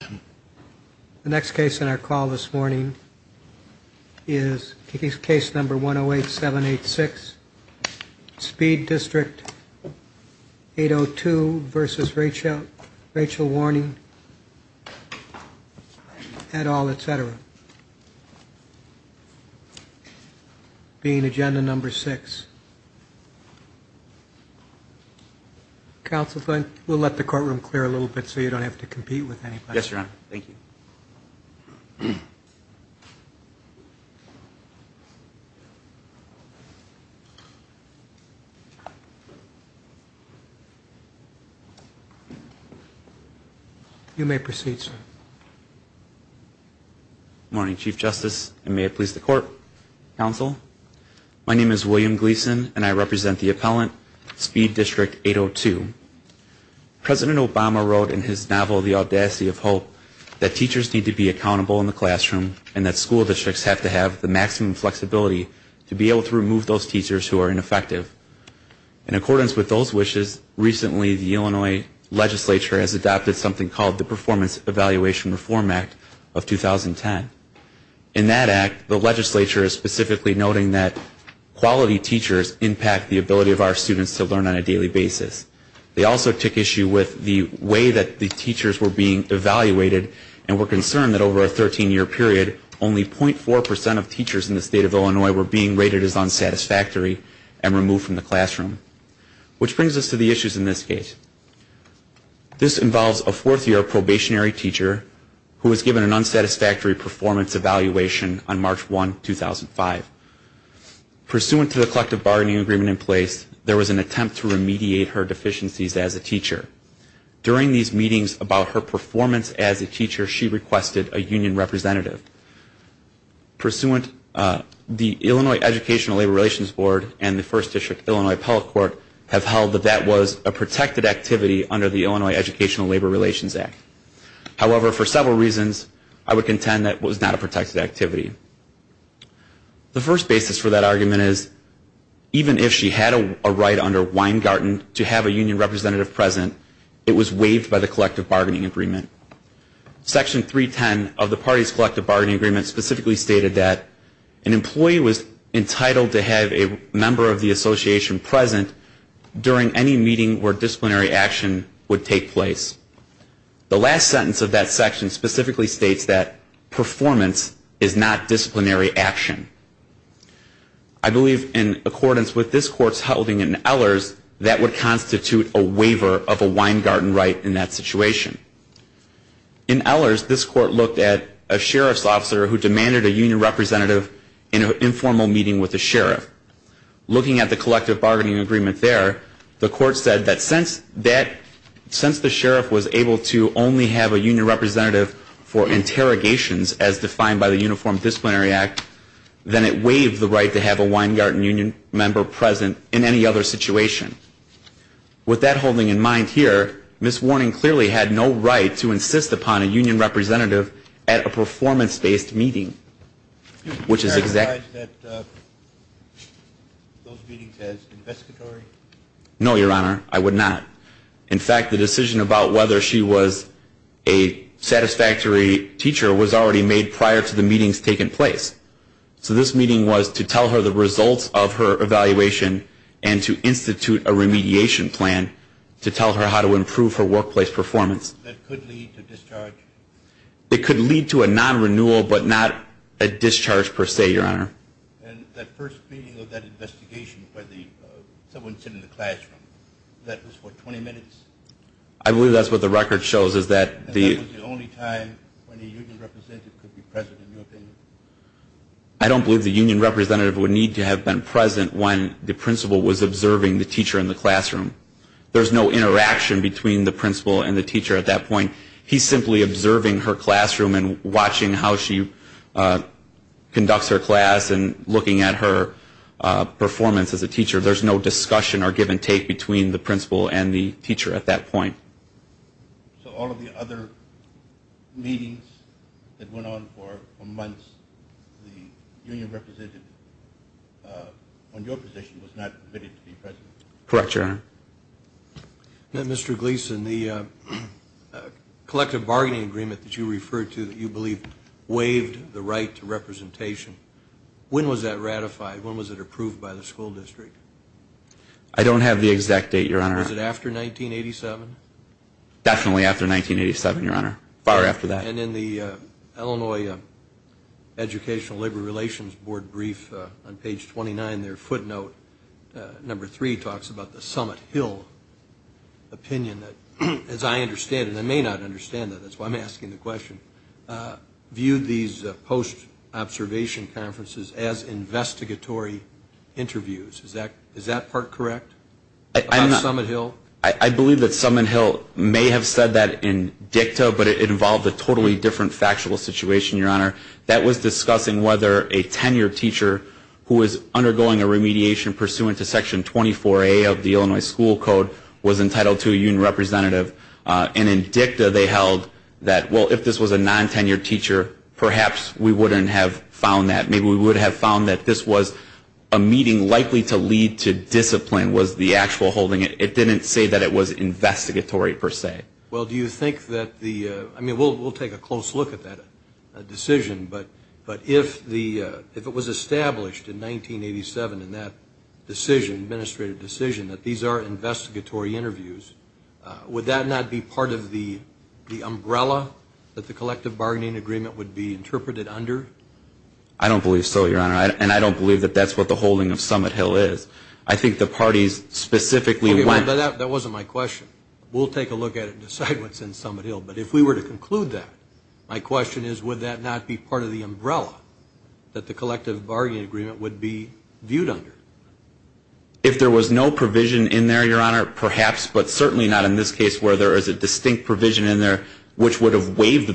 The next case in our call this morning is case number 108-786, Speed District 802 v. Rachel Warning, et al., etc. Being agenda number six. Counsel, we'll let the courtroom clear a little bit so you don't have to Yes, Your Honor. Thank you. You may proceed, sir. Morning, Chief Justice, and may it please the Court, Counsel. My name is William Gleason and I represent the appellant, Speed District 802. President Obama wrote in his novel, The Audacity of Hope, that teachers need to be accountable in the classroom and that school districts have to have the maximum flexibility to be able to remove those teachers who are ineffective. In accordance with those wishes, recently the Illinois legislature has adopted something called the Performance Evaluation Reform Act of 2010. In that act, the legislature is specifically noting that quality teachers impact the They also took issue with the way that the teachers were being evaluated and were concerned that over a 13-year period, only 0.4 percent of teachers in the state of Illinois were being rated as unsatisfactory and removed from the classroom, which brings us to the issues in this case. This involves a fourth-year probationary teacher who was given an unsatisfactory performance evaluation on March 1, 2005. Pursuant to the collective bargaining agreement in place, there was an attempt to remediate her deficiencies as a teacher. During these meetings about her performance as a teacher, she requested a union representative. Pursuant, the Illinois Educational Labor Relations Board and the First District Illinois Appellate Court have held that that was a protected activity under the Illinois Educational Labor Relations Act. However, for several reasons, I would contend that it was not a protected activity. The first basis for that under Weingarten to have a union representative present, it was waived by the collective bargaining agreement. Section 310 of the party's collective bargaining agreement specifically stated that an employee was entitled to have a member of the association present during any meeting where disciplinary action would take place. The last sentence of that section specifically states that performance is not disciplinary action. I believe in accordance with this Court's ruling in Ehlers, that would constitute a waiver of a Weingarten right in that situation. In Ehlers, this Court looked at a sheriff's officer who demanded a union representative in an informal meeting with the sheriff. Looking at the collective bargaining agreement there, the Court said that since the sheriff was able to only have a union representative for interrogations as defined by the Uniform Disciplinary Act, then it waived the right to have a Weingarten union member present in any other situation. With that holding in mind here, Ms. Warning clearly had no right to insist upon a union representative at a performance-based meeting, which is exactly- Would you characterize those meetings as investigatory? No, Your Honor, I would not. In fact, the decision about whether she was a satisfactory teacher was already made prior to the meetings taking place. So this meeting was to tell her the results of her evaluation and to institute a remediation plan to tell her how to improve her workplace performance. That could lead to discharge? It could lead to a non-renewal, but not a discharge per se, Your Honor. And that first meeting of that investigation by the, someone sitting in the classroom, that was for 20 minutes? I believe that's what the record shows, is that the- And that was the only time when a union representative could be present, in your opinion? I don't believe the union representative would need to have been present when the principal was observing the teacher in the classroom. There's no interaction between the principal and the teacher at that point. He's simply observing her classroom and watching how she conducts her class and looking at her performance as a teacher. There's no discussion or give-and-take between the principal and the teacher at that point. So all of the other meetings that went on for months, the union representative on your position was not permitted to be present? Correct, Your Honor. Now, Mr. Gleason, the collective bargaining agreement that you referred to that you believe waived the right to representation, when was that ratified? When was it approved by the school district? I don't have the exact date, Your Honor. Was it after 1987? Definitely after 1987, Your Honor. Far after that. And in the Illinois Educational Labor Relations Board brief on page 29, their footnote, number three, talks about the Summit Hill opinion that, as I understand it, and I may not understand it, that's why I'm asking the question, viewed these post-observation conferences as investigatory interviews. Is that part correct? About Summit Hill? I believe that Summit Hill may have said that in dicta, but it involved a totally different factual situation, Your Honor. That was discussing whether a tenured teacher who was undergoing a remediation pursuant to Section 24A of the Illinois School Code was entitled to a union representative, and in dicta they held that, well, if this was a non-tenured teacher, perhaps we wouldn't have found that. Maybe we would have found that this was a meeting likely to lead to discipline was the actual holding. It didn't say that it was investigatory per se. Well, do you think that the, I mean, we'll take a close look at that decision, but if it was established in 1987 in that decision, administrative decision, that these are investigatory interviews, would that not be part of the umbrella that the collective bargaining agreement would be interpreted under? I don't believe so, Your Honor, and I don't believe that that's what the holding of Summit Hill is. I think the parties specifically went. That wasn't my question. We'll take a look at it and decide what's in Summit Hill, but if we were to conclude that, my question is would that not be part of the umbrella that the collective bargaining agreement would be viewed under? If there was no provision in there, Your Honor, perhaps, but certainly not in this case where there is a distinct provision in there which would have created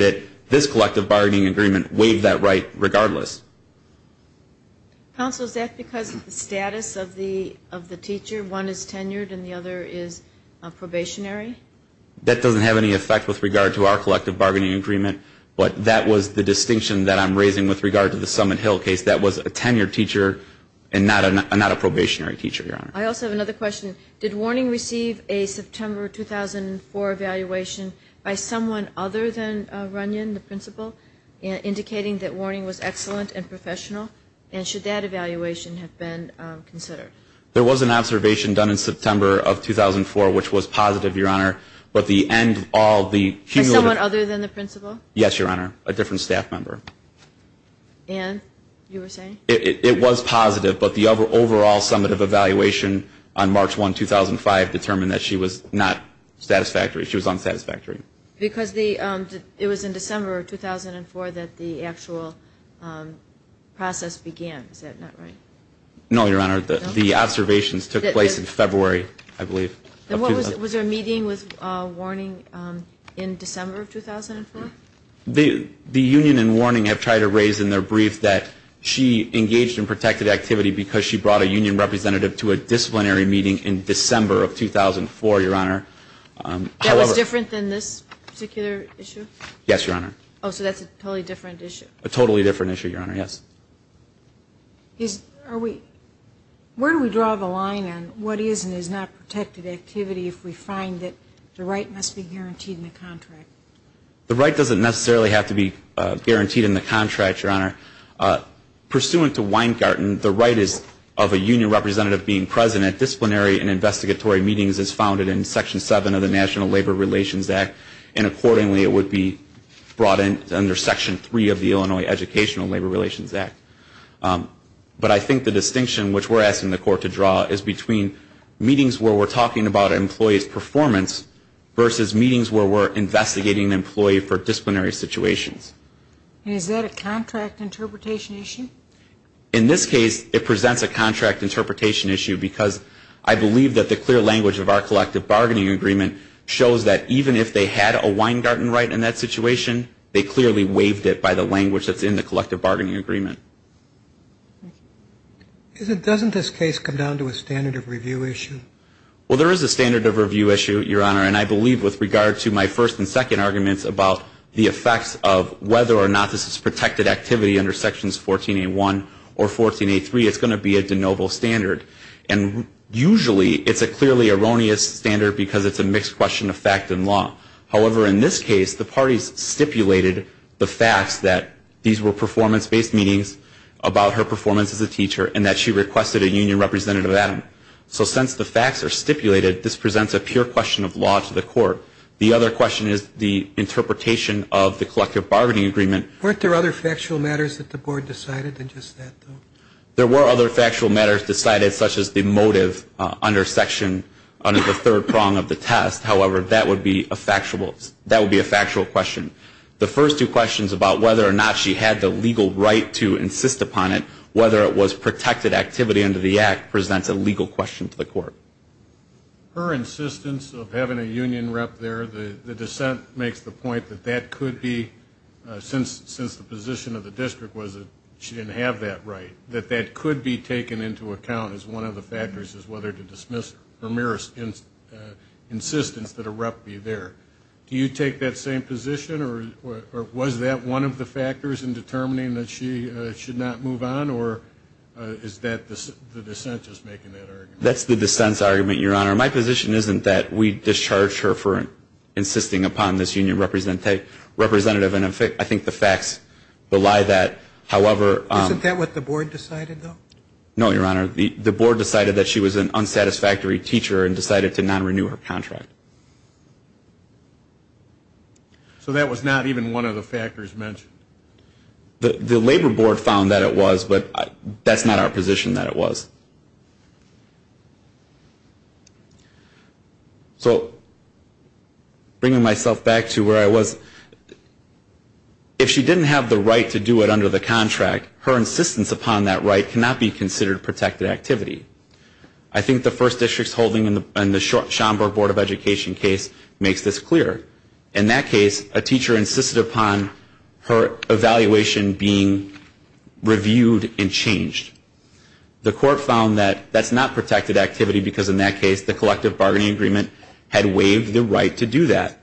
it, this collective bargaining agreement waived that right regardless. Counsel, is that because of the status of the teacher? One is tenured and the other is probationary? That doesn't have any effect with regard to our collective bargaining agreement, but that was the distinction that I'm raising with regard to the Summit Hill case. That was a tenured teacher and not a probationary teacher, Your Honor. I also have another question. Did warning receive a September 2004 evaluation by someone other than Runyon, the principal, indicating that warning was excellent and professional, and should that evaluation have been considered? There was an observation done in September of 2004, which was positive, Your Honor, but the end of all the cumulative. By someone other than the principal? Yes, Your Honor, a different staff member. And you were saying? It was positive, but the overall summative evaluation on March 1, 2005, determined that she was not satisfactory. She was unsatisfactory. Because it was in December of 2004 that the actual process began. Is that not right? No, Your Honor. The observations took place in February, I believe. Was there a meeting with warning in December of 2004? The union and warning have tried to raise in their brief that she engaged in protected activity because she brought a union representative to a disciplinary meeting in December of 2004, Your Honor. That was different than this particular issue? Yes, Your Honor. Oh, so that's a totally different issue? A totally different issue, Your Honor, yes. Where do we draw the line on what is and is not protected activity if we find that the right must be guaranteed in the contract? The right doesn't necessarily have to be guaranteed in the contract, Your Honor. Pursuant to Weingarten, the right of a union representative being present at disciplinary and investigatory meetings is founded in Section 7 of the National Labor Relations Act, and accordingly it would be brought in under Section 3 of the Illinois Educational Labor Relations Act. But I think the distinction which we're asking the court to draw is between meetings where we're talking about an employee's performance versus meetings where we're investigating an employee for disciplinary situations. And is that a contract interpretation issue? In this case, it presents a contract interpretation issue because I believe that the clear language of our collective bargaining agreement shows that even if they had a Weingarten right in that situation, they clearly waived it by the language that's in the collective bargaining agreement. Doesn't this case come down to a standard of review issue? Well, there is a standard of review issue, Your Honor, and I believe with regard to my first and second arguments about the effects of whether or not this is protected activity under Sections 14A1 or 14A3, it's going to be a de novo standard. And usually it's a clearly erroneous standard because it's a mixed question of fact and law. However, in this case, the parties stipulated the facts that these were performance-based meetings about her performance as a teacher and that she requested a union representative at them. So since the facts are stipulated, this presents a pure question of law to the court. The other question is the interpretation of the collective bargaining agreement. Weren't there other factual matters that the Board decided than just that, though? There were other factual matters decided, such as the motive under Section under the third prong of the test. However, that would be a factual question. The first two questions about whether or not she had the legal right to insist upon it, whether it was protected activity under the Act, presents a legal question to the court. Her insistence of having a union rep there, the dissent makes the point that that could be, since the position of the district was that she didn't have that right, that that could be taken into account as one of the factors as whether to dismiss her mere insistence that a rep be there. Do you take that same position, or was that one of the factors in determining that she should not move on, or is that the dissent just making that argument? That's the dissent's argument, Your Honor. My position isn't that we discharged her for insisting upon this union representative, and I think the facts belie that. Isn't that what the Board decided, though? No, Your Honor. The Board decided that she was an unsatisfactory teacher and decided to non-renew her contract. So that was not even one of the factors mentioned? The Labor Board found that it was, but that's not our position that it was. So bringing myself back to where I was, if she didn't have the right to do it under the contract, her insistence upon that right cannot be considered protected activity. I think the first district's holding in the Schomburg Board of Education case makes this clear. In that case, a teacher insisted upon her evaluation being reviewed and changed. The court found that that's not protected activity because, in that case, the collective bargaining agreement had waived the right to do that.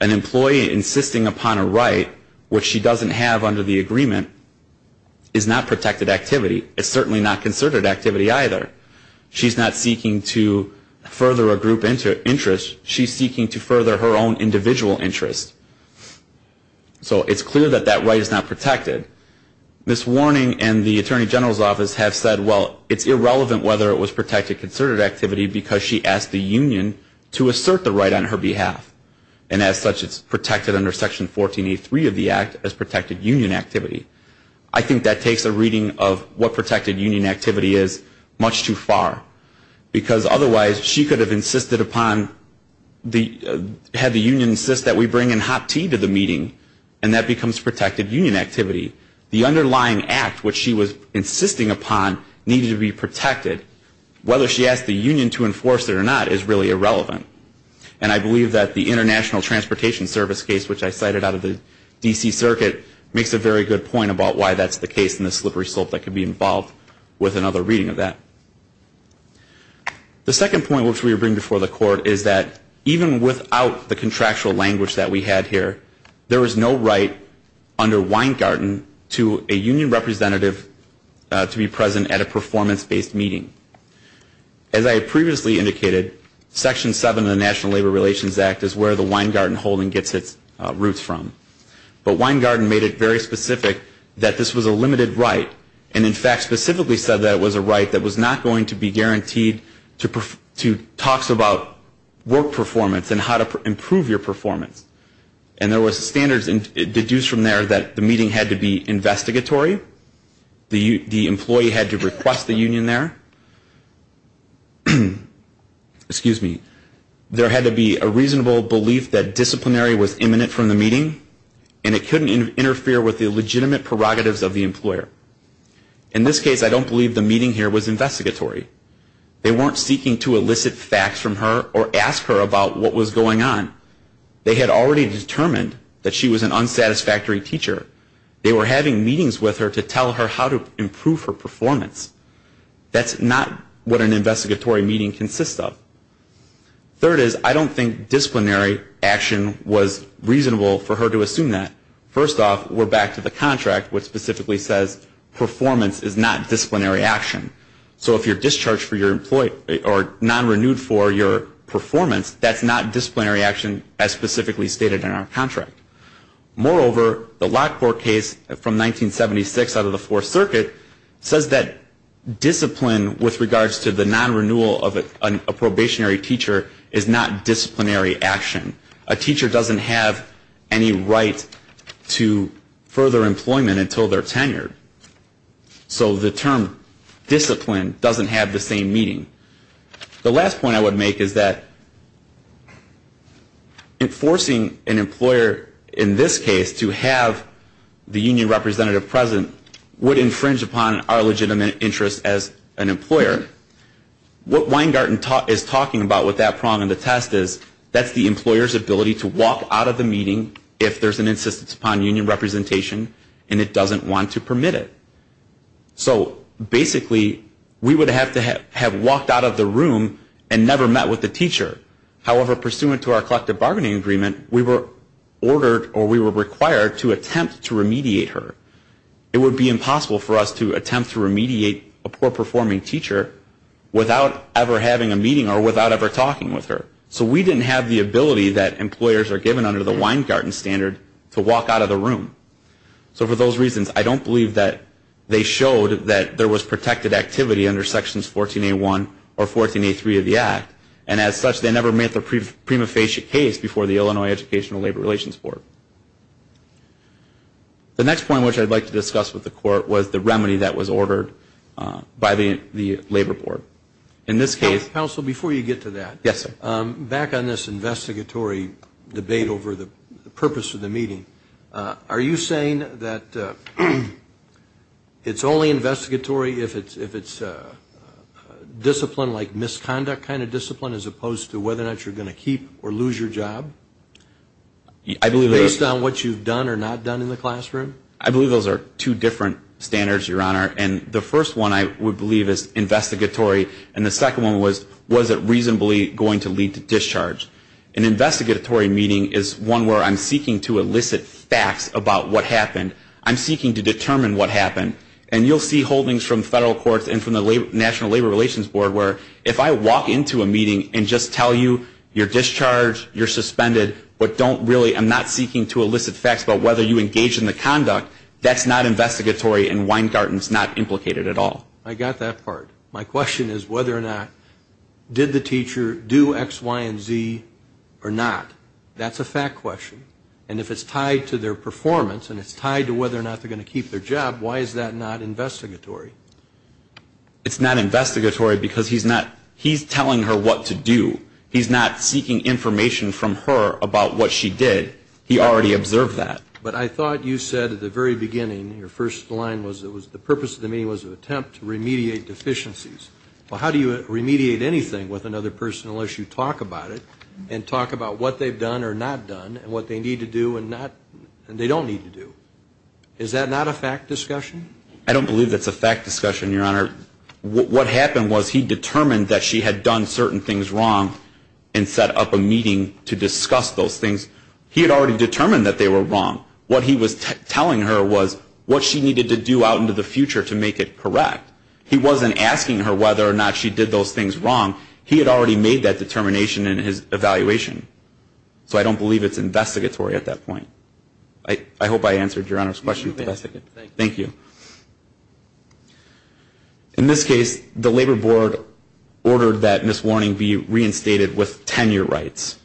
An employee insisting upon a right, which she doesn't have under the agreement, is not protected activity. It's certainly not concerted activity either. She's not seeking to further a group interest. She's seeking to further her own individual interest. So it's clear that that right is not protected. Ms. Warning and the Attorney General's Office have said, well, it's irrelevant whether it was protected concerted activity because she asked the union to assert the right on her behalf. And as such, it's protected under Section 1483 of the Act as protected union activity. I think that takes a reading of what protected union activity is much too far, because otherwise she could have insisted upon the union insist that we bring in hot tea to the meeting and that becomes protected union activity. The underlying act, which she was insisting upon, needed to be protected. Whether she asked the union to enforce it or not is really irrelevant. And I believe that the International Transportation Service case, which I cited out of the D.C. Circuit, makes a very good point about why that's the case in the slippery slope that could be involved with another reading of that. The second point, which we bring before the Court, is that even without the contractual language that we had here, there is no right under Weingarten to a union representative to be present at a performance-based meeting. As I previously indicated, Section 7 of the National Labor Relations Act is where the Weingarten holding gets its roots from. But Weingarten made it very specific that this was a limited right and in fact specifically said that it was a right that was not going to be guaranteed to talks about work performance and how to improve your performance. And there were standards deduced from there that the meeting had to be investigatory, the employee had to request the union there. Excuse me. There had to be a reasonable belief that disciplinary was imminent from the meeting and it couldn't interfere with the legitimate prerogatives of the employer. In this case, I don't believe the meeting here was investigatory. They weren't seeking to elicit facts from her or ask her about what was going on. They had already determined that she was an unsatisfactory teacher. They were having meetings with her to tell her how to improve her performance. That's not what an investigatory meeting consists of. Third is I don't think disciplinary action was reasonable for her to assume that. First off, we're back to the contract which specifically says performance is not disciplinary action. So if you're discharged for your employee or non-renewed for your performance, that's not disciplinary action as specifically stated in our contract. Moreover, the Lockport case from 1976 out of the Fourth Circuit says that discipline with regards to the non-renewal of a probationary teacher is not disciplinary action. A teacher doesn't have any right to further employment until they're tenured. So the term discipline doesn't have the same meaning. The last point I would make is that enforcing an employer in this case to have the union representative present would infringe upon our legitimate interest as an employer. What Weingarten is talking about with that prong of the test is that's the employer's ability to walk out of the meeting if there's an insistence upon union representation and it doesn't want to permit it. So basically, we would have to have walked out of the room and never met with the teacher. However, pursuant to our collective bargaining agreement, we were ordered or we were required to attempt to remediate her. It would be impossible for us to attempt to remediate a poor-performing teacher without ever having a meeting or without ever talking with her. So we didn't have the ability that employers are given under the Weingarten standard to walk out of the room. So for those reasons, I don't believe that they showed that there was protected activity under Sections 14A1 or 14A3 of the Act. And as such, they never met the prima facie case before the Illinois Educational Labor Relations Board. The next point which I'd like to discuss with the Court was the remedy that was ordered by the Labor Board. In this case... Are you saying that it's only investigatory if it's a discipline like misconduct kind of discipline as opposed to whether or not you're going to keep or lose your job based on what you've done or not done in the classroom? I believe those are two different standards, Your Honor, and the first one I would believe is investigatory, and the second one was, was it reasonably going to lead to discharge? An investigatory meeting is one where I'm seeking to elicit facts about what happened. I'm seeking to determine what happened. And you'll see holdings from federal courts and from the National Labor Relations Board where if I walk into a meeting and just tell you you're discharged, you're suspended, but don't really, I'm not seeking to elicit facts about whether you engaged in the conduct, that's not investigatory and Weingarten's not implicated at all. I got that part. My question is whether or not, did the teacher do X, Y, and Z or not? That's a fact question. And if it's tied to their performance and it's tied to whether or not they're going to keep their job, why is that not investigatory? It's not investigatory because he's not, he's telling her what to do. He's not seeking information from her about what she did. He already observed that. But I thought you said at the very beginning, your first line was, the purpose of the meeting was an attempt to remediate deficiencies. Well, how do you remediate anything with another person unless you talk about it and talk about what they've done or not done and what they need to do and not, and they don't need to do? Is that not a fact discussion? I don't believe that's a fact discussion, Your Honor. What happened was he determined that she had done certain things wrong and set up a meeting to discuss those things. He had already determined that they were wrong. What he was telling her was what she needed to do out into the future to make it correct. He wasn't asking her whether or not she did those things wrong. He had already made that determination in his evaluation. So I don't believe it's investigatory at that point. I hope I answered Your Honor's question. Thank you. In this case, the Labor Board ordered that Ms. Warning be reinstated with tenure rights.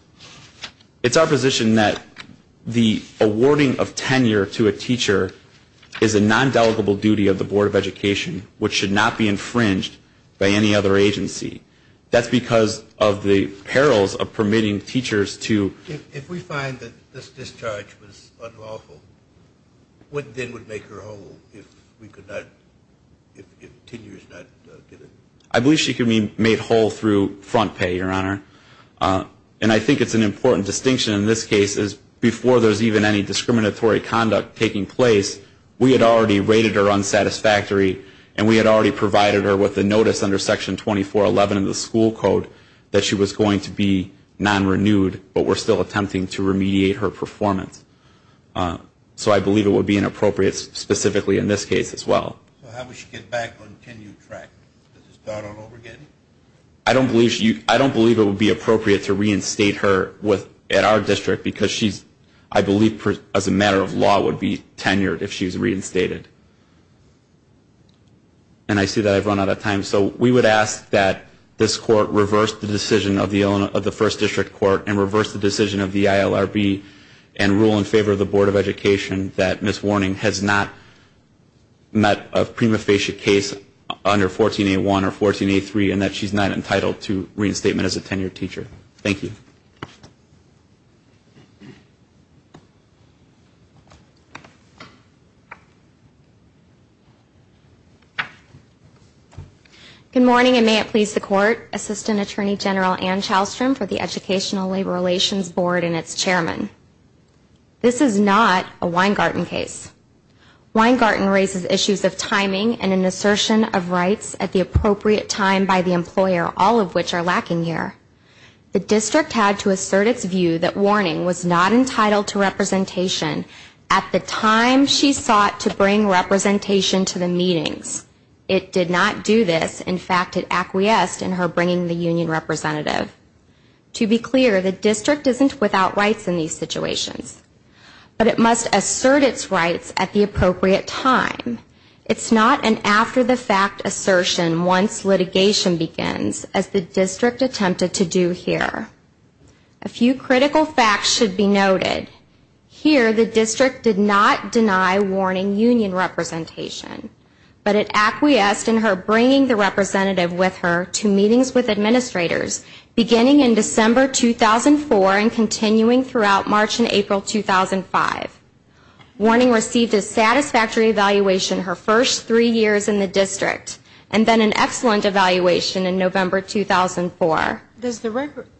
It's our position that the awarding of tenure to a teacher is a nondelegable duty of the Board of Education, which should not be infringed by any other agency. That's because of the perils of permitting teachers to... If we find that this discharge was unlawful, what then would make her whole if we could not, if tenure is not given? I believe she could be made whole through front pay, Your Honor. And I think it's an important distinction in this case is before there's even any discriminatory conduct taking place, we had already rated her unsatisfactory, and we had already provided her with a notice under Section 2411 of the school code that she was going to be non-renewed but were still attempting to remediate her performance. So I believe it would be inappropriate specifically in this case as well. So how would she get back on tenure track? Does it start on over getting? I don't believe it would be appropriate to reinstate her at our district because I believe as a matter of law it would be tenured if she was reinstated. And I see that I've run out of time. So we would ask that this Court reverse the decision of the First District Court and reverse the decision of the ILRB and rule in favor of the Board of Education that Ms. Warning has not met a prima facie case under 14A1 or 14A3 and that she's not entitled to reinstatement as a tenured teacher. Thank you. Good morning, and may it please the Court, Assistant Attorney General Ann Chalstrom for the Educational Labor Relations Board and its Chairman. This is not a Weingarten case. Weingarten raises issues of timing and an assertion of rights at the appropriate time by the employer, all of which are lacking here. The district had to assert its view that Warning was not entitled to representation at the time she sought to bring representation to the meetings. It did not do this. In fact, it acquiesced in her bringing the union representative. To be clear, the district isn't without rights in these situations, but it must assert its rights at the appropriate time. It's not an after-the-fact assertion once litigation begins, as the district attempted to do here. A few critical facts should be noted. Here, the district did not deny Warning union representation, but it acquiesced in her bringing the representative with her to meetings with administrators beginning in December 2004 and continuing throughout March and April 2005. Warning received a satisfactory evaluation her first three years in the district and then an excellent evaluation in November 2004.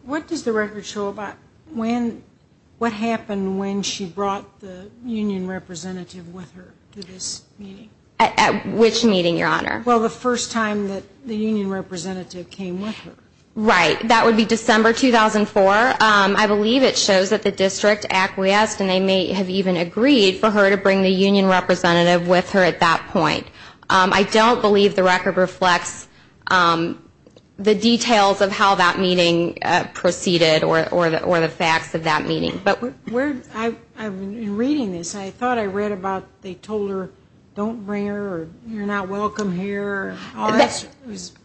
What does the record show about what happened when she brought the union representative with her to this meeting? At which meeting, Your Honor? Well, the first time that the union representative came with her. Right. That would be December 2004. I believe it shows that the district acquiesced, and they may have even agreed for her to bring the union representative with her at that point. I don't believe the record reflects the details of how that meeting proceeded or the facts of that meeting. In reading this, I thought I read about they told her, don't bring her or you're not welcome here.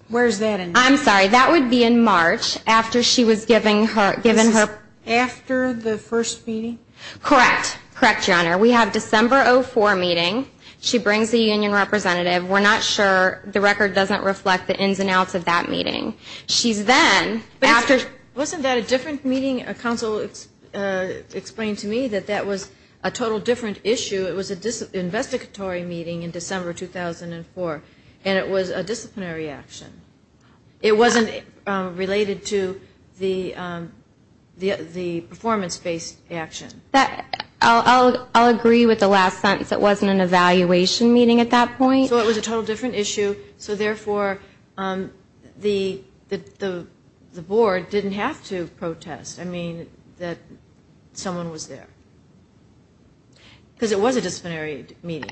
Where is that in? I'm sorry. That would be in March after she was given her. This is after the first meeting? Correct. Correct, Your Honor. We have December 2004 meeting. She brings the union representative. We're not sure. The record doesn't reflect the ins and outs of that meeting. She's then after. Wasn't that a different meeting? A counsel explained to me that that was a total different issue. It was an investigatory meeting in December 2004, and it was a disciplinary action. It wasn't related to the performance-based action. I'll agree with the last sentence. It wasn't an evaluation meeting at that point. So it was a total different issue. So, therefore, the board didn't have to protest, I mean, that someone was there. Because it was a disciplinary meeting.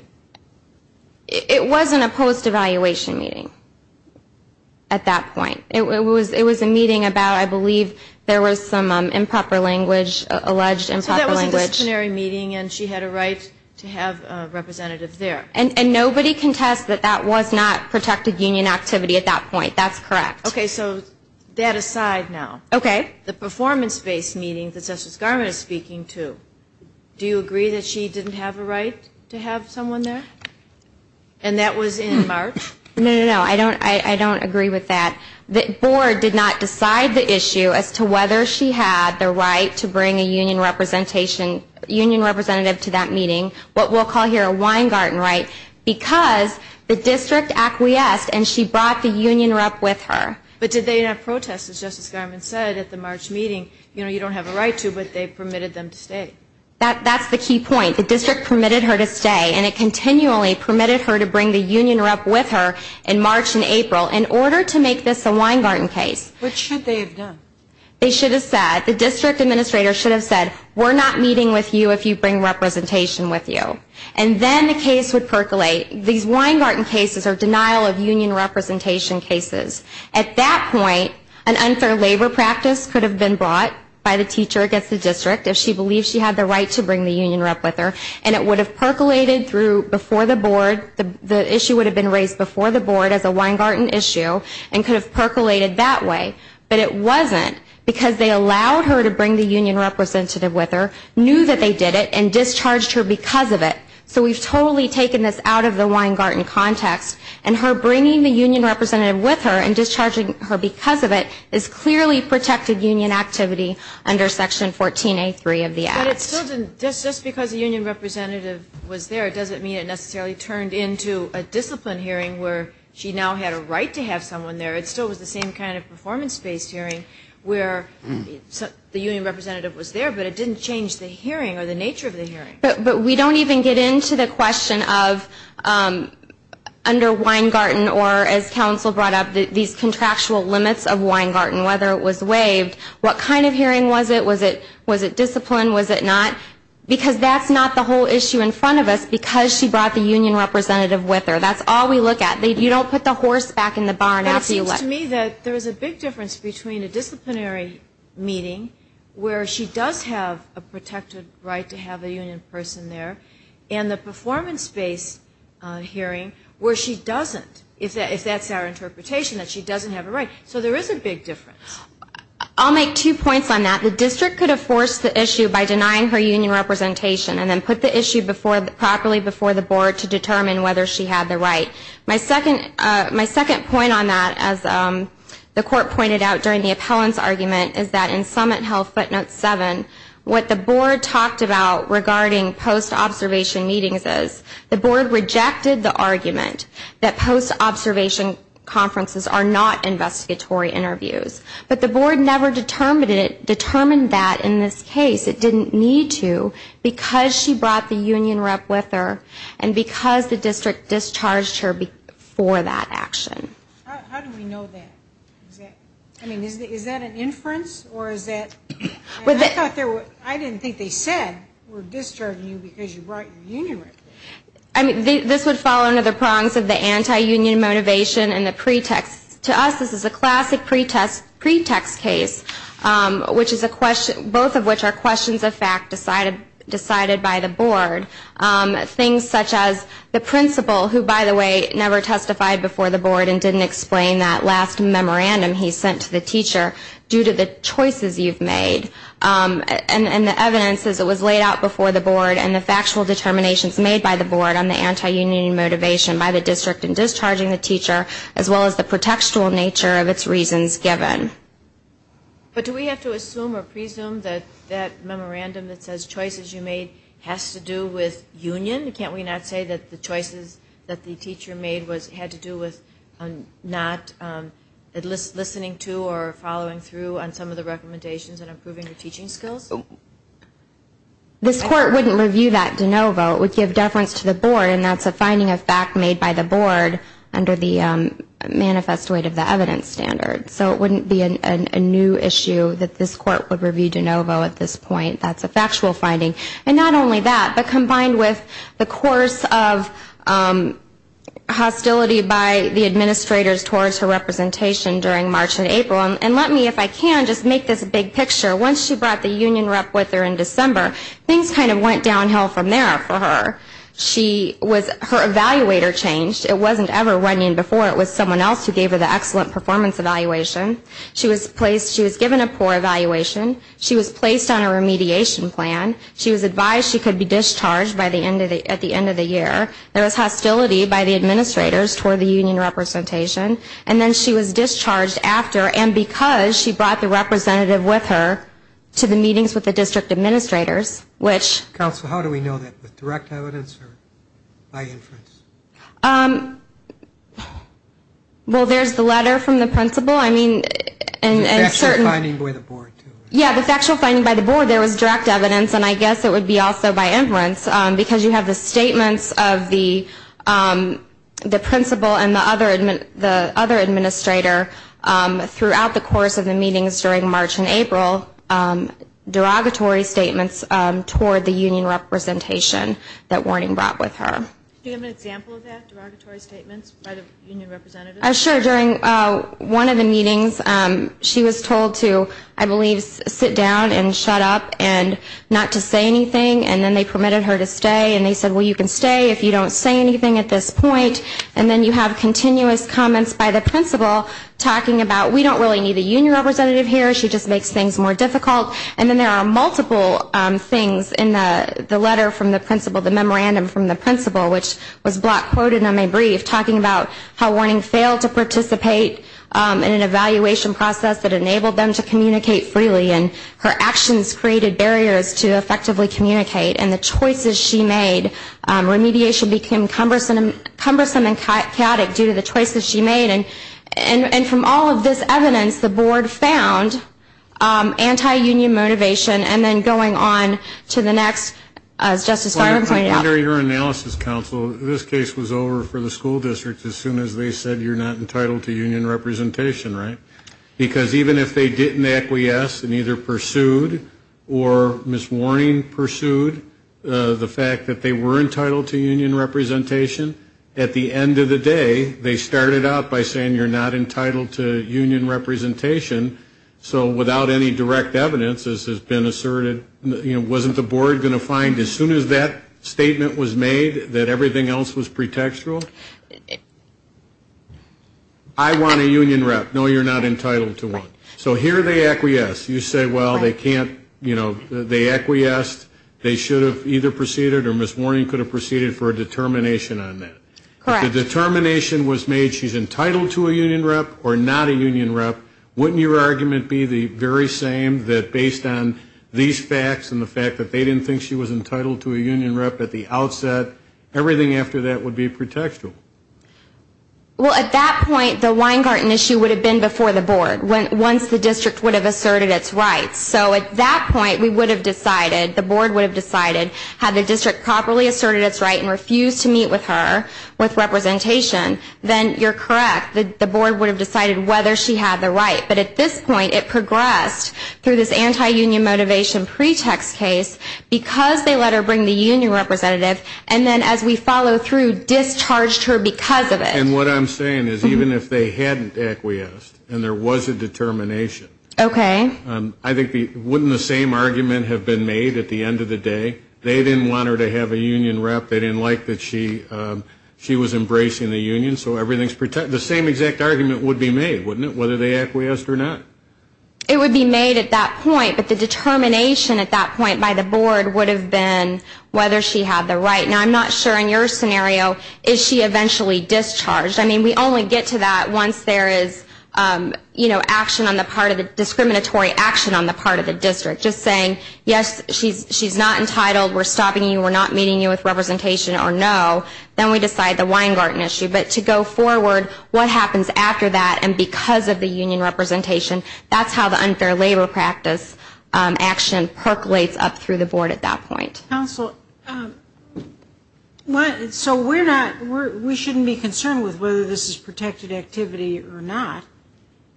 It wasn't a post-evaluation meeting at that point. It was a meeting about, I believe, there was some improper language, alleged improper language. So that was a disciplinary meeting, and she had a right to have a representative there. And nobody contests that that was not protected union activity at that point. That's correct. Okay, so that aside now. Okay. The performance-based meeting that Justice Garmon is speaking to, do you agree that she didn't have a right to have someone there? And that was in March? No, no, no. I don't agree with that. The board did not decide the issue as to whether she had the right to bring a union representation, union representative to that meeting, what we'll call here a Weingarten right, because the district acquiesced and she brought the union rep with her. But did they not protest? As Justice Garmon said at the March meeting, you know, you don't have a right to, but they permitted them to stay. That's the key point. The district permitted her to stay, and it continually permitted her to bring the union rep with her in March and April in order to make this a Weingarten case. What should they have done? They should have said, the district administrator should have said, we're not meeting with you if you bring representation with you. And then the case would percolate. These Weingarten cases are denial of union representation cases. At that point, an unfair labor practice could have been brought by the teacher against the district if she believed she had the right to bring the union rep with her, and it would have percolated through before the board, the issue would have been raised before the board as a Weingarten issue and could have percolated that way. But it wasn't because they allowed her to bring the union representative with her, knew that they did it, and discharged her because of it. So we've totally taken this out of the Weingarten context, and her bringing the union representative with her and discharging her because of it is clearly protected union activity under Section 14A3 of the Act. But it still didn't, just because the union representative was there, it doesn't mean it necessarily turned into a discipline hearing where she now had a right to have someone there. It still was the same kind of performance-based hearing where the union representative was there, but it didn't change the hearing or the nature of the hearing. But we don't even get into the question of under Weingarten, or as counsel brought up, these contractual limits of Weingarten, whether it was waived, what kind of hearing was it? Was it discipline? Was it not? Because that's not the whole issue in front of us, because she brought the union representative with her. That's all we look at. You don't put the horse back in the barn after you left. It seems to me that there's a big difference between a disciplinary meeting where she does have a protected right to have a union person there and the performance-based hearing where she doesn't, if that's our interpretation, that she doesn't have a right. So there is a big difference. I'll make two points on that. The district could have forced the issue by denying her union representation and then put the issue properly before the board to determine whether she had the right. My second point on that, as the Court pointed out during the appellant's argument, is that in Summit Health Footnote 7, what the board talked about regarding post-observation meetings is the board rejected the argument that post-observation conferences are not investigatory interviews. But the board never determined that in this case. It didn't need to because she brought the union rep with her and because the district discharged her before that action. How do we know that? Is that an inference? I didn't think they said we're discharging you because you brought your union rep. This would fall under the prongs of the anti-union motivation and the pretext. To us, this is a classic pretext case, both of which are questions of fact decided by the board. Things such as the principal, who, by the way, never testified before the board and didn't explain that last memorandum he sent to the teacher due to the choices you've made. And the evidence is it was laid out before the board and the factual determinations made by the board on the anti-union motivation by the district in discharging the teacher, as well as the pretextual nature of its reasons given. But do we have to assume or presume that that memorandum that says choices you made has to do with union? Can't we not say that the choices that the teacher made had to do with not listening to or following through on some of the recommendations and improving the teaching skills? This court wouldn't review that de novo. It would give deference to the board, and that's a finding of fact made by the board under the manifest weight of the evidence standard. So it wouldn't be a new issue that this court would review de novo at this point. That's a factual finding. And not only that, but combined with the course of hostility by the administrators towards her representation during March and April. And let me, if I can, just make this a big picture. Once she brought the union rep with her in December, things kind of went downhill from there for her. She was, her evaluator changed. It wasn't ever Runyon before, it was someone else who gave her the excellent performance evaluation. She was placed, she was given a poor evaluation. She was placed on a remediation plan. She was advised she could be discharged at the end of the year. There was hostility by the administrators toward the union representation. And then she was discharged after and because she brought the representative with her to the meetings with the district administrators, which. Counsel, how do we know that? With direct evidence or by inference? Well, there's the letter from the principal. I mean, and certain. The factual finding by the board, too. And I guess it would be also by inference because you have the statements of the principal and the other administrator throughout the course of the meetings during March and April, derogatory statements toward the union representation that Runyon brought with her. Do you have an example of that, derogatory statements by the union representatives? Sure. During one of the meetings, she was told to, I believe, sit down and shut up and not to say anything. And then they permitted her to stay. And they said, well, you can stay if you don't say anything at this point. And then you have continuous comments by the principal talking about we don't really need a union representative here. She just makes things more difficult. And then there are multiple things in the letter from the principal, the memorandum from the principal, which was block quoted in my brief talking about how Warning failed to participate in an evaluation process that enabled them to communicate freely. And her actions created barriers to effectively communicate. And the choices she made, remediation became cumbersome and chaotic due to the choices she made. And from all of this evidence, the board found anti-union motivation. And then going on to the next, as Justice Garland pointed out. Under your analysis, counsel, this case was over for the school district as soon as they said you're not entitled to union representation, right? Because even if they didn't acquiesce and either pursued or, Ms. Warning, pursued the fact that they were entitled to union representation, at the end of the day, they started out by saying you're not entitled to union representation. So without any direct evidence, as has been asserted, wasn't the board going to find as soon as that statement was made that everything else was pretextual? I want a union rep. No, you're not entitled to one. So here they acquiesce. You say, well, they can't, you know, they acquiesced, they should have either proceeded or Ms. Warning could have proceeded for a determination on that. Correct. If the determination was made she's entitled to a union rep or not a union rep, wouldn't your argument be the very same that based on these facts and the fact that they didn't think she was entitled to a union rep at the outset, everything after that would be pretextual? Well, at that point, the Weingarten issue would have been before the board once the district would have asserted its rights. So at that point, we would have decided, the board would have decided, had the district properly asserted its right and refused to meet with her with representation, then you're correct, the board would have decided whether she had the right. But at this point, it progressed through this anti-union motivation pretext case because they let her bring the union representative, and then as we follow through discharged her because of it. And what I'm saying is even if they hadn't acquiesced and there was a determination, I think wouldn't the same argument have been made at the end of the day? They didn't want her to have a union rep. They didn't like that she was embracing the union. So the same exact argument would be made, wouldn't it, whether they acquiesced or not? It would be made at that point, but the determination at that point by the board would have been whether she had the right. Now, I'm not sure in your scenario, is she eventually discharged? I mean, we only get to that once there is action on the part of the discriminatory action on the part of the district. Just saying, yes, she's not entitled, we're stopping you, we're not meeting you with representation or no, then we decide the Weingarten issue. But to go forward, what happens after that, and because of the union representation, that's how the unfair labor practice action percolates up through the board at that point. Counsel, so we shouldn't be concerned with whether this is protected activity or not.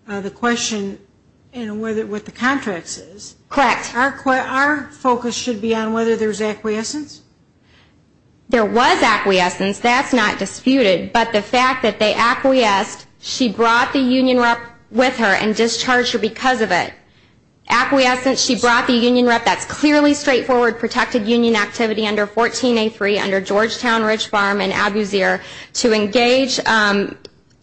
The question in what the contract says. Correct. Our focus should be on whether there is acquiescence. There was acquiescence. That's not disputed. But the fact that they acquiesced, she brought the union rep with her and discharged her because of it. Acquiescence, she brought the union rep. That's clearly straightforward protected union activity under 14A3, under Georgetown, Ridge Farm, and Abuseer.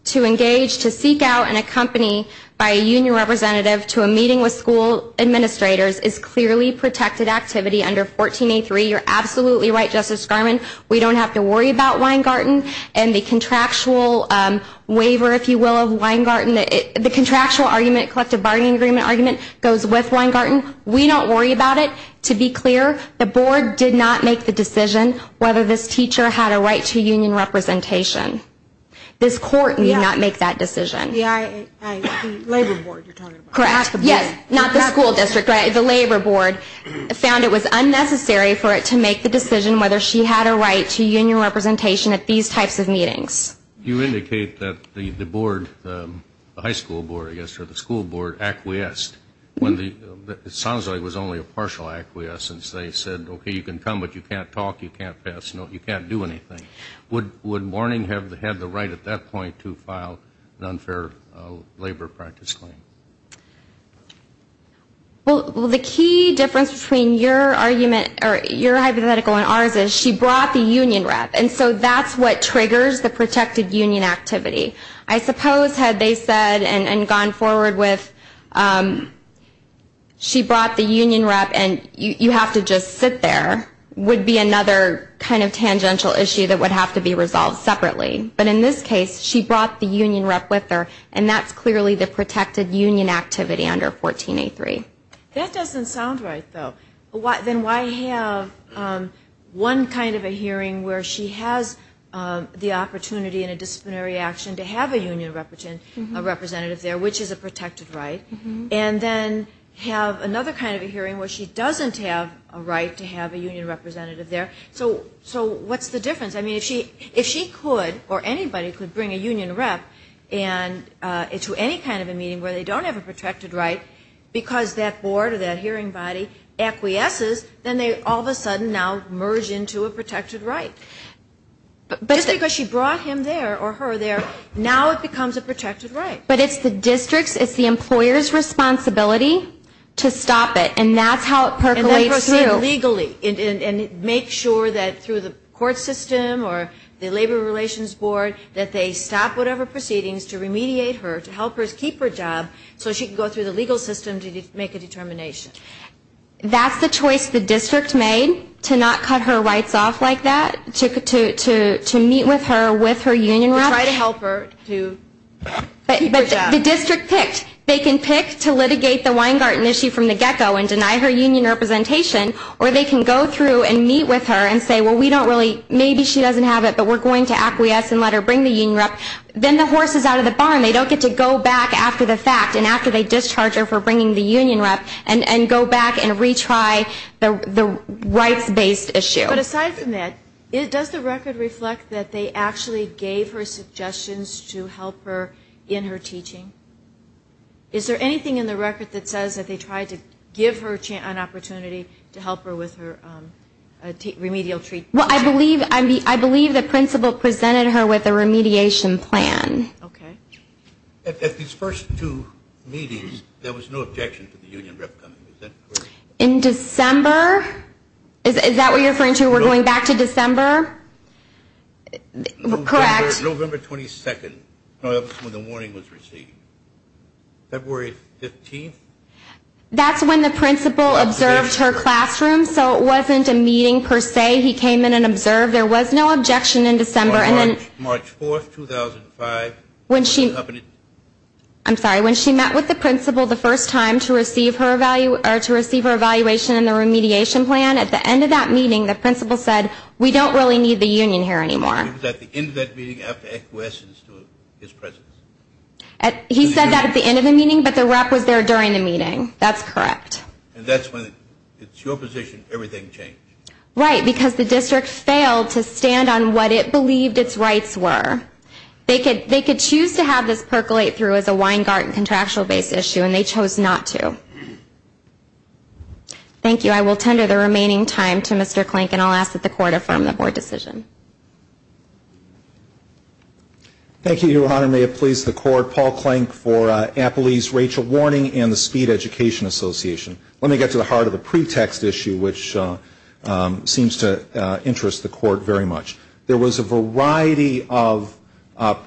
To engage, to seek out and accompany by a union representative to a meeting with school administrators is clearly protected activity under 14A3. You're absolutely right, Justice Garland. We don't have to worry about Weingarten. And the contractual waiver, if you will, of Weingarten, the contractual argument, collective bargaining agreement argument, goes with Weingarten. We don't worry about it. To be clear, the board did not make the decision whether this teacher had a right to union representation. This court did not make that decision. The labor board you're talking about. Correct. Yes, not the school district. The labor board found it was unnecessary for it to make the decision whether she had a right to union representation at these types of meetings. You indicate that the board, the high school board, I guess, or the school board acquiesced. It sounds like it was only a partial acquiescence. They said, okay, you can come, but you can't talk, you can't pass notes, you can't do anything. Would Morning have had the right at that point to file an unfair labor practice claim? Well, the key difference between your hypothetical and ours is she brought the union rep, and so that's what triggers the protected union activity. I suppose had they said and gone forward with she brought the union rep and you have to just sit there, would be another kind of tangential issue that would have to be resolved separately. But in this case, she brought the union rep with her, and that's clearly the protected union activity under 14A3. That doesn't sound right, though. Then why have one kind of a hearing where she has the opportunity in a disciplinary action to have a union representative there, which is a protected right, and then have another kind of a hearing where she doesn't have a right to have a union representative there. So what's the difference? I mean, if she could or anybody could bring a union rep to any kind of a meeting where they don't have a protected right because that board or that hearing body acquiesces, then they all of a sudden now merge into a protected right. Just because she brought him there or her there, now it becomes a protected right. But it's the district's, it's the employer's responsibility to stop it, and that's how it percolates through. And then proceed legally and make sure that through the court system or the Labor Relations Board that they stop whatever proceedings to remediate her, to help her keep her job so she can go through the legal system to make a determination. That's the choice the district made to not cut her rights off like that, to meet with her with her union rep. Try to help her to keep her job. But the district picked. They can pick to litigate the Weingarten issue from the get-go and deny her union representation, or they can go through and meet with her and say, well, we don't really, maybe she doesn't have it, but we're going to acquiesce and let her bring the union rep. Then the horse is out of the barn. They don't get to go back after the fact and after they discharge her for bringing the union rep and go back and retry the rights-based issue. But aside from that, does the record reflect that they actually gave her suggestions to help her in her teaching? Is there anything in the record that says that they tried to give her an opportunity to help her with her remedial treatment? Well, I believe the principal presented her with a remediation plan. Okay. At these first two meetings, there was no objection to the union rep coming. Is that correct? In December? Is that what you're referring to? We're going back to December? Correct. November 22nd was when the warning was received. February 15th? That's when the principal observed her classroom, so it wasn't a meeting per se. He came in and observed. There was no objection in December. March 4th, 2005. I'm sorry, when she met with the principal the first time to receive her evaluation and the remediation plan, at the end of that meeting, the principal said, we don't really need the union here anymore. It was at the end of that meeting after acquiescence to his presence. He said that at the end of the meeting, but the rep was there during the meeting. That's correct. And that's when it's your position, everything changed. Right, because the district failed to stand on what it believed its rights were. They could choose to have this percolate through as a Weingarten contractual-based issue, and they chose not to. Thank you. I will tender the remaining time to Mr. Klink, and I'll ask that the Court affirm the Board decision. Thank you, Your Honor. May it please the Court, Paul Klink for Appley's Rachel Warning and the Speed Education Association. Let me get to the heart of the pretext issue, which seems to interest the Court very much. There was a variety of,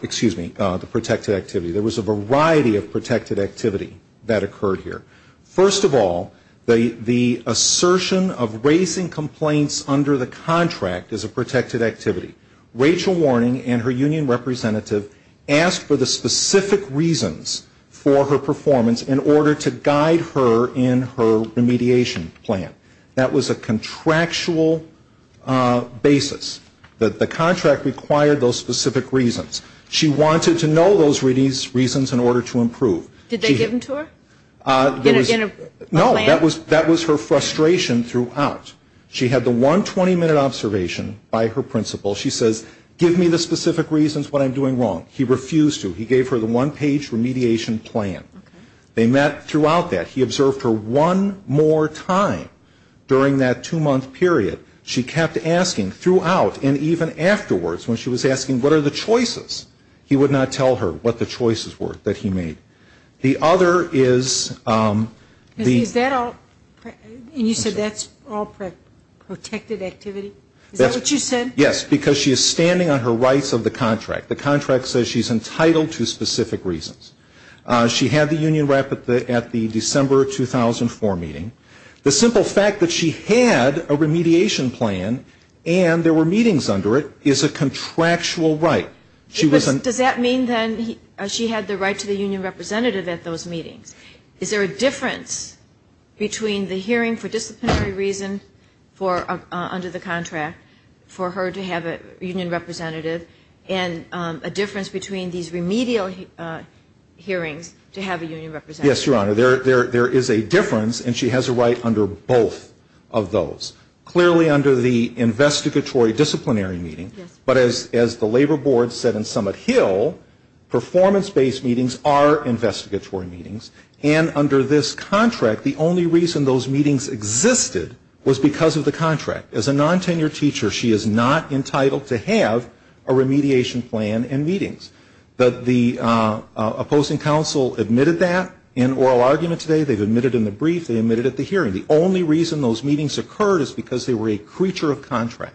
excuse me, the protected activity. There was a variety of protected activity that occurred here. First of all, the assertion of raising complaints under the contract is a protected activity. Rachel Warning and her union representative asked for the specific reasons for her performance in order to guide her in her remediation plan. That was a contractual basis. The contract required those specific reasons. She wanted to know those reasons in order to improve. Did they give them to her? No, that was her frustration throughout. She had the 120-minute observation by her principal. She says, give me the specific reasons what I'm doing wrong. He refused to. He gave her the one-page remediation plan. They met throughout that. He observed her one more time during that two-month period. She kept asking throughout and even afterwards when she was asking, what are the choices? He would not tell her what the choices were that he made. The other is the ---- Is that all? And you said that's all protected activity? Is that what you said? Yes, because she is standing on her rights of the contract. The contract says she's entitled to specific reasons. She had the union rep at the December 2004 meeting. The simple fact that she had a remediation plan and there were meetings under it is a contractual right. Does that mean then she had the right to the union representative at those meetings? Is there a difference between the hearing for disciplinary reason under the contract for her to have a union representative and a difference between these remedial hearings to have a union representative? Yes, Your Honor. There is a difference, and she has a right under both of those. Clearly under the investigatory disciplinary meeting, but as the labor board said in Summit Hill, performance-based meetings are investigatory meetings, and under this contract, the only reason those meetings existed was because of the contract. As a non-tenured teacher, she is not entitled to have a remediation plan and meetings. But the opposing counsel admitted that in oral argument today. They've admitted it in the brief. They admitted it at the hearing. The only reason those meetings occurred is because they were a creature of contract.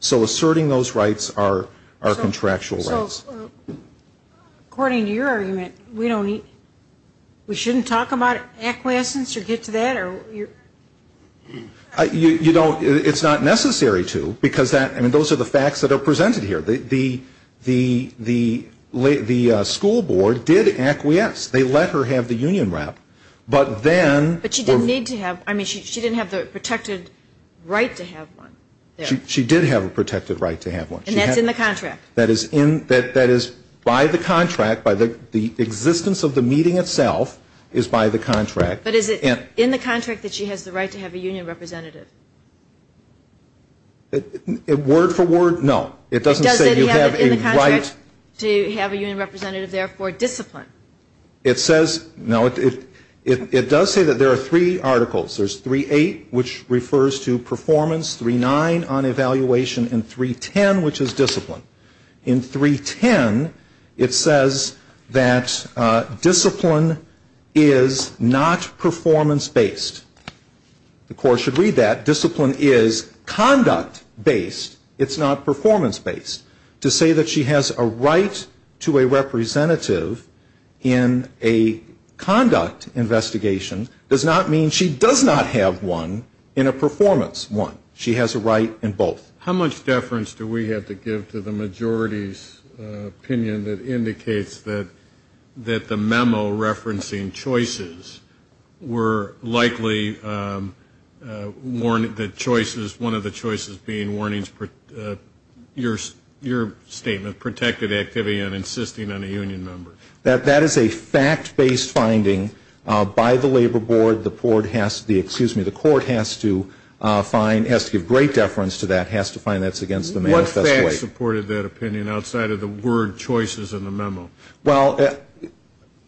So asserting those rights are contractual rights. So according to your argument, we shouldn't talk about acquiescence or get to that? It's not necessary to because those are the facts that are presented here. The school board did acquiesce. They let her have the union rep. But she didn't have the protected right to have one. She did have a protected right to have one. And that's in the contract. That is by the contract. The existence of the meeting itself is by the contract. But is it in the contract that she has the right to have a union representative? Word for word, no. It doesn't say you have a right to have a union representative, therefore discipline. It says, no, it does say that there are three articles. There's 3-8, which refers to performance, 3-9 on evaluation, and 3-10, which is discipline. In 3-10, it says that discipline is not performance-based. The court should read that. Discipline is conduct-based. It's not performance-based. To say that she has a right to a representative in a conduct investigation does not mean she does not have one in a performance one. She has a right in both. How much deference do we have to give to the majority's opinion that indicates that the memo referencing choices were likely one of the choices being warnings, your statement, protected activity and insisting on a union member? That is a fact-based finding by the Labor Board. The board has to, excuse me, the court has to find, has to give great deference to that, has to find that's against the manifest way. What facts supported that opinion outside of the word choices in the memo? Well,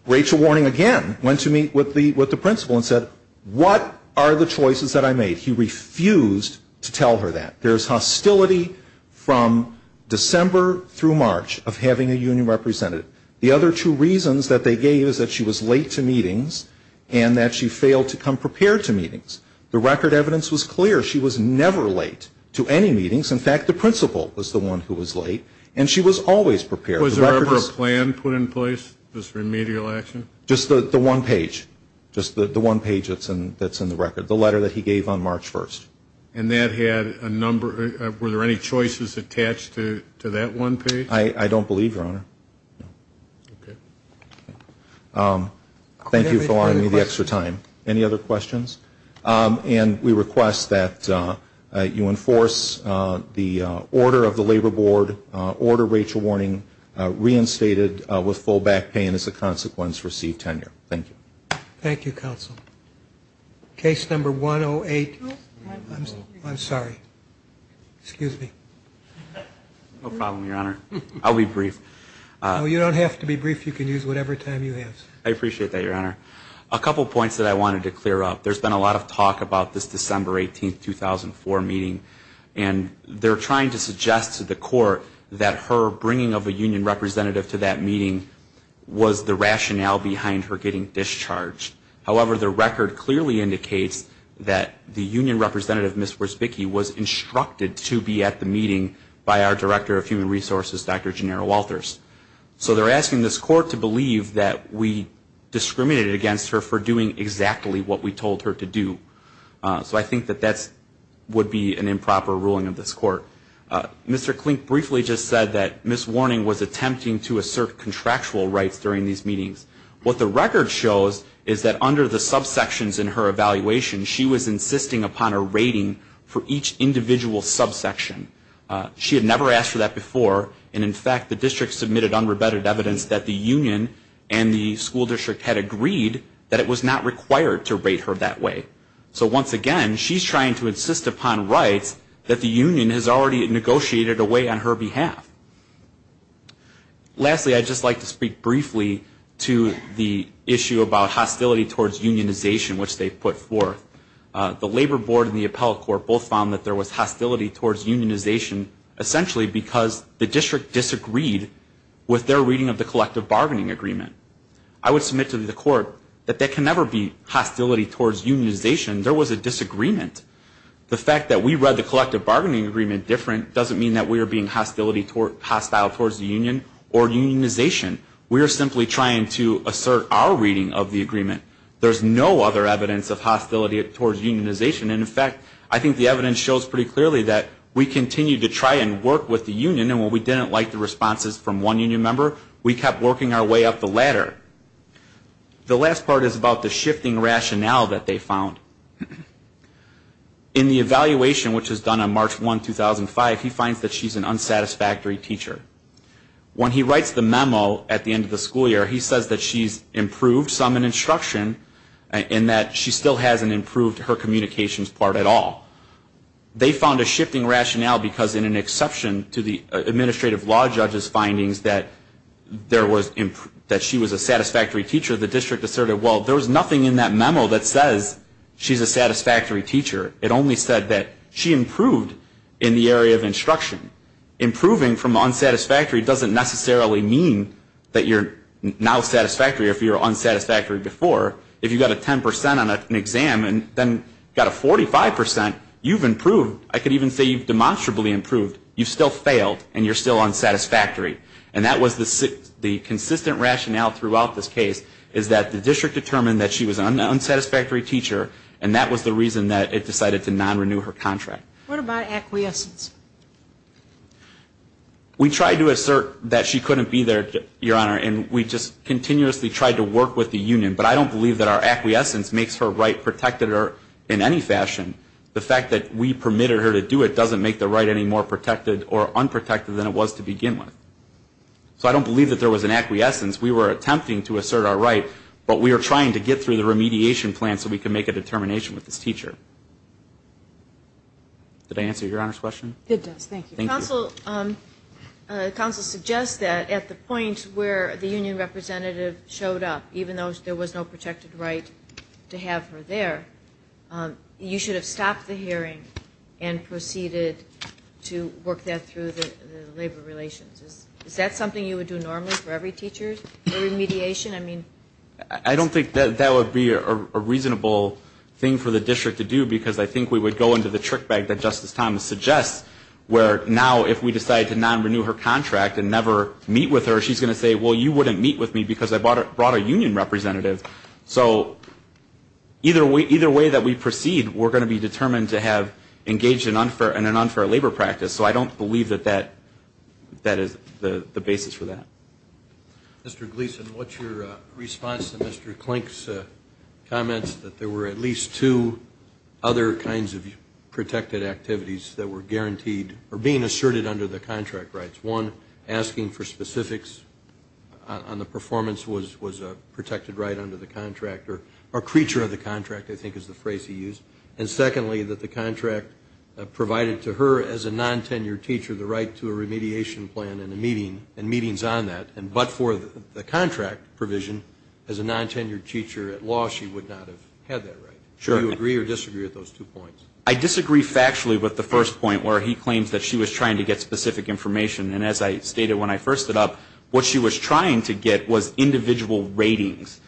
Rachel warning again went to meet with the principal and said, what are the choices that I made? He refused to tell her that. There's hostility from December through March of having a union representative. The other two reasons that they gave is that she was late to meetings and that she failed to come prepared to meetings. The record evidence was clear. She was never late to any meetings. In fact, the principal was the one who was late, and she was always prepared. Was there ever a plan put in place, this remedial action? Just the one page, just the one page that's in the record, the letter that he gave on March 1st. And that had a number, were there any choices attached to that one page? I don't believe, Your Honor. Thank you for allowing me the extra time. Any other questions? And we request that you enforce the order of the Labor Board, order Rachel warning reinstated with full back pay and as a consequence receive tenure. Thank you. Thank you, counsel. Case number 108. I'm sorry. Excuse me. No problem, Your Honor. I'll be brief. No, you don't have to be brief. You can use whatever time you have. I appreciate that, Your Honor. A couple points that I wanted to clear up. There's been a lot of talk about this December 18th, 2004 meeting, and they're trying to suggest to the court that her bringing of a union representative to that meeting was the rationale behind her getting discharged. However, the record clearly indicates that the union representative, Ms. Wierzbicki, was instructed to be at the meeting by our Director of Human Resources, Dr. Janera Walters. So they're asking this court to believe that we discriminated against her for doing exactly what we told her to do. So I think that that would be an improper ruling of this court. Mr. Klink briefly just said that Ms. Warning was attempting to assert contractual rights during these meetings. What the record shows is that under the subsections in her evaluation, she was insisting upon a rating for each individual subsection. She had never asked for that before, and, in fact, the district submitted unrebetted evidence that the union and the school district had agreed that it was not required to rate her that way. So once again, she's trying to insist upon rights that the union has already negotiated away on her behalf. Lastly, I'd just like to speak briefly to the issue about hostility towards unionization, which they put forth. The labor board and the appellate court both found that there was hostility towards unionization, essentially because the district disagreed with their reading of the collective bargaining agreement. I would submit to the court that there can never be hostility towards unionization. There was a disagreement. The fact that we read the collective bargaining agreement different doesn't mean that we are being hostile towards the union or unionization. We are simply trying to assert our reading of the agreement. There's no other evidence of hostility towards unionization, and, in fact, I think the evidence shows pretty clearly that we continued to try and work with the union, and when we didn't like the responses from one union member, we kept working our way up the ladder. The last part is about the shifting rationale that they found. In the evaluation, which was done on March 1, 2005, he finds that she's an unsatisfactory teacher. When he writes the memo at the end of the school year, he says that she's improved some in instruction and that she still hasn't improved her communications part at all. They found a shifting rationale because, in an exception to the administrative law judge's findings that she was a satisfactory teacher, the district asserted, well, there was nothing in that memo that says she's a satisfactory teacher. It only said that she improved in the area of instruction. Improving from unsatisfactory doesn't necessarily mean that you're now satisfactory if you were unsatisfactory before. If you got a 10 percent on an exam and then got a 45 percent, you've improved. I could even say you've demonstrably improved. You've still failed, and you're still unsatisfactory. And that was the consistent rationale throughout this case, is that the district determined that she was an unsatisfactory teacher, and that was the reason that it decided to non-renew her contract. What about acquiescence? We tried to assert that she couldn't be there, Your Honor, and we just continuously tried to work with the union. But I don't believe that our acquiescence makes her right protected in any fashion. The fact that we permitted her to do it doesn't make the right any more protected or unprotected than it was to begin with. So I don't believe that there was an acquiescence. We were attempting to assert our right, but we were trying to get through the remediation plan so we could make a determination with this teacher. Did I answer Your Honor's question? It does. Thank you. Counsel suggests that at the point where the union representative showed up, even though there was no protected right to have her there, you should have stopped the hearing and proceeded to work that through the labor relations. Is that something you would do normally for every teacher, every mediation? I don't think that would be a reasonable thing for the district to do because I think we would go into the trick bag that Justice Thomas suggests where now if we decide to non-renew her contract and never meet with her, she's going to say, well, you wouldn't meet with me because I brought a union representative. So either way that we proceed, we're going to be determined to have engaged in an unfair labor practice. So I don't believe that that is the basis for that. Mr. Gleeson, what's your response to Mr. Klink's comments that there were at least two other kinds of protected activities that were guaranteed or being asserted under the contract rights? One, asking for specifics on the performance was a protected right under the contract or creature of the contract, I think is the phrase he used. And secondly, that the contract provided to her as a non-tenured teacher the right to a remediation plan and meetings on that, but for the contract provision as a non-tenured teacher at law, she would not have had that right. Do you agree or disagree with those two points? I disagree factually with the first point where he claims that she was trying to get specific information. And as I stated when I first stood up, what she was trying to get was individual ratings.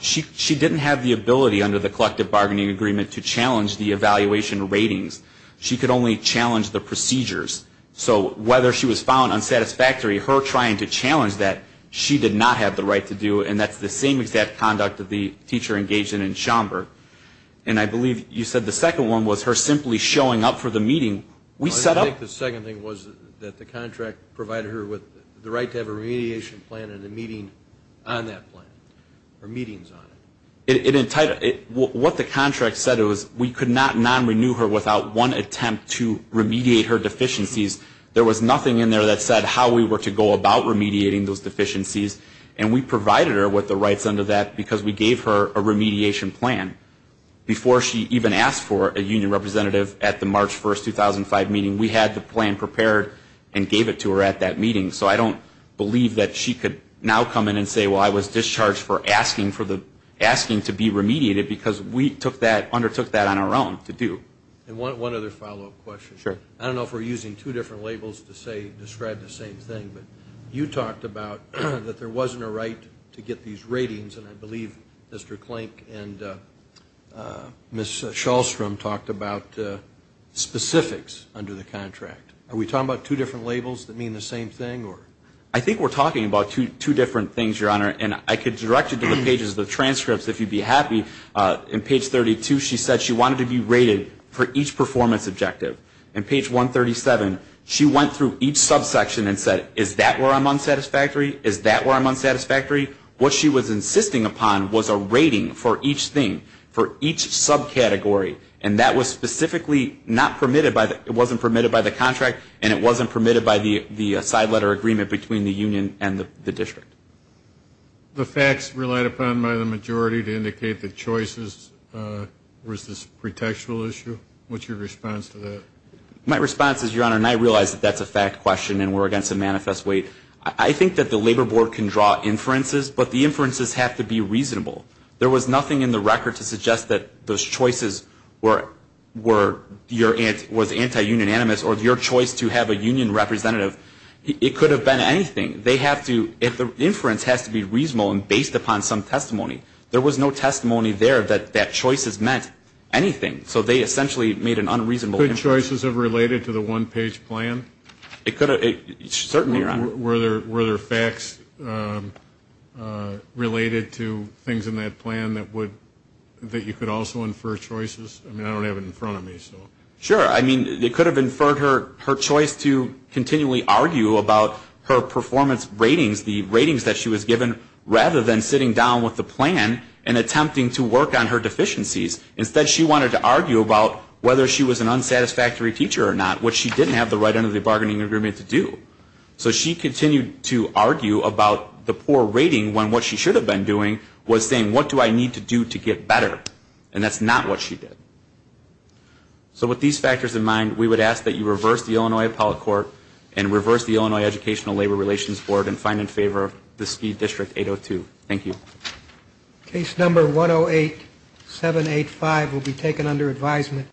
She didn't have the ability under the collective bargaining agreement to challenge the evaluation ratings. She could only challenge the procedures. So whether she was found unsatisfactory, her trying to challenge that, she did not have the right to do, and that's the same exact conduct that the teacher engaged in in Schomburg. And I believe you said the second one was her simply showing up for the meeting. I think the second thing was that the contract provided her with the right to have a remediation plan and a meeting on that plan or meetings on it. What the contract said was we could not non-renew her without one attempt to remediate her deficiencies. There was nothing in there that said how we were to go about remediating those deficiencies, and we provided her with the rights under that because we gave her a remediation plan. Before she even asked for a union representative at the March 1, 2005 meeting, we had the plan prepared and gave it to her at that meeting. So I don't believe that she could now come in and say, well, I was discharged for asking to be remediated because we undertook that on our own to do. And one other follow-up question. Sure. I don't know if we're using two different labels to describe the same thing, but you talked about that there wasn't a right to get these ratings, and I believe Mr. Klink and Ms. Shulstrom talked about specifics under the contract. Are we talking about two different labels that mean the same thing? I think we're talking about two different things, Your Honor, and I could direct you to the pages of the transcripts if you'd be happy. In page 32, she said she wanted to be rated for each performance objective. In page 137, she went through each subsection and said, is that where I'm unsatisfactory? Is that where I'm unsatisfactory? What she was insisting upon was a rating for each thing, for each subcategory, and that was specifically not permitted by the contract, and it wasn't permitted by the side letter agreement between the union and the district. The facts relied upon by the majority to indicate that choices was this pretextual issue. What's your response to that? My response is, Your Honor, and I realize that that's a fact question and we're against a manifest weight. I think that the Labor Board can draw inferences, but the inferences have to be reasonable. There was nothing in the record to suggest that those choices were anti-union animus or your choice to have a union representative. It could have been anything. The inference has to be reasonable and based upon some testimony. There was no testimony there that that choice has meant anything, so they essentially made an unreasonable inference. Could choices have related to the one-page plan? It could have. Certainly, Your Honor. Were there facts related to things in that plan that you could also infer choices? I mean, I don't have it in front of me, so. Sure. I mean, it could have inferred her choice to continually argue about her performance ratings, the ratings that she was given, rather than sitting down with the plan and attempting to work on her deficiencies. Instead, she wanted to argue about whether she was an unsatisfactory teacher or not, which she didn't have the right end of the bargaining agreement to do. So she continued to argue about the poor rating when what she should have been doing was saying, what do I need to do to get better? And that's not what she did. So with these factors in mind, we would ask that you reverse the Illinois Appellate Court and reverse the Illinois Educational Labor Relations Board and find in favor of the Ski District 802. Thank you. Case number 108-785 will be taken under advisement.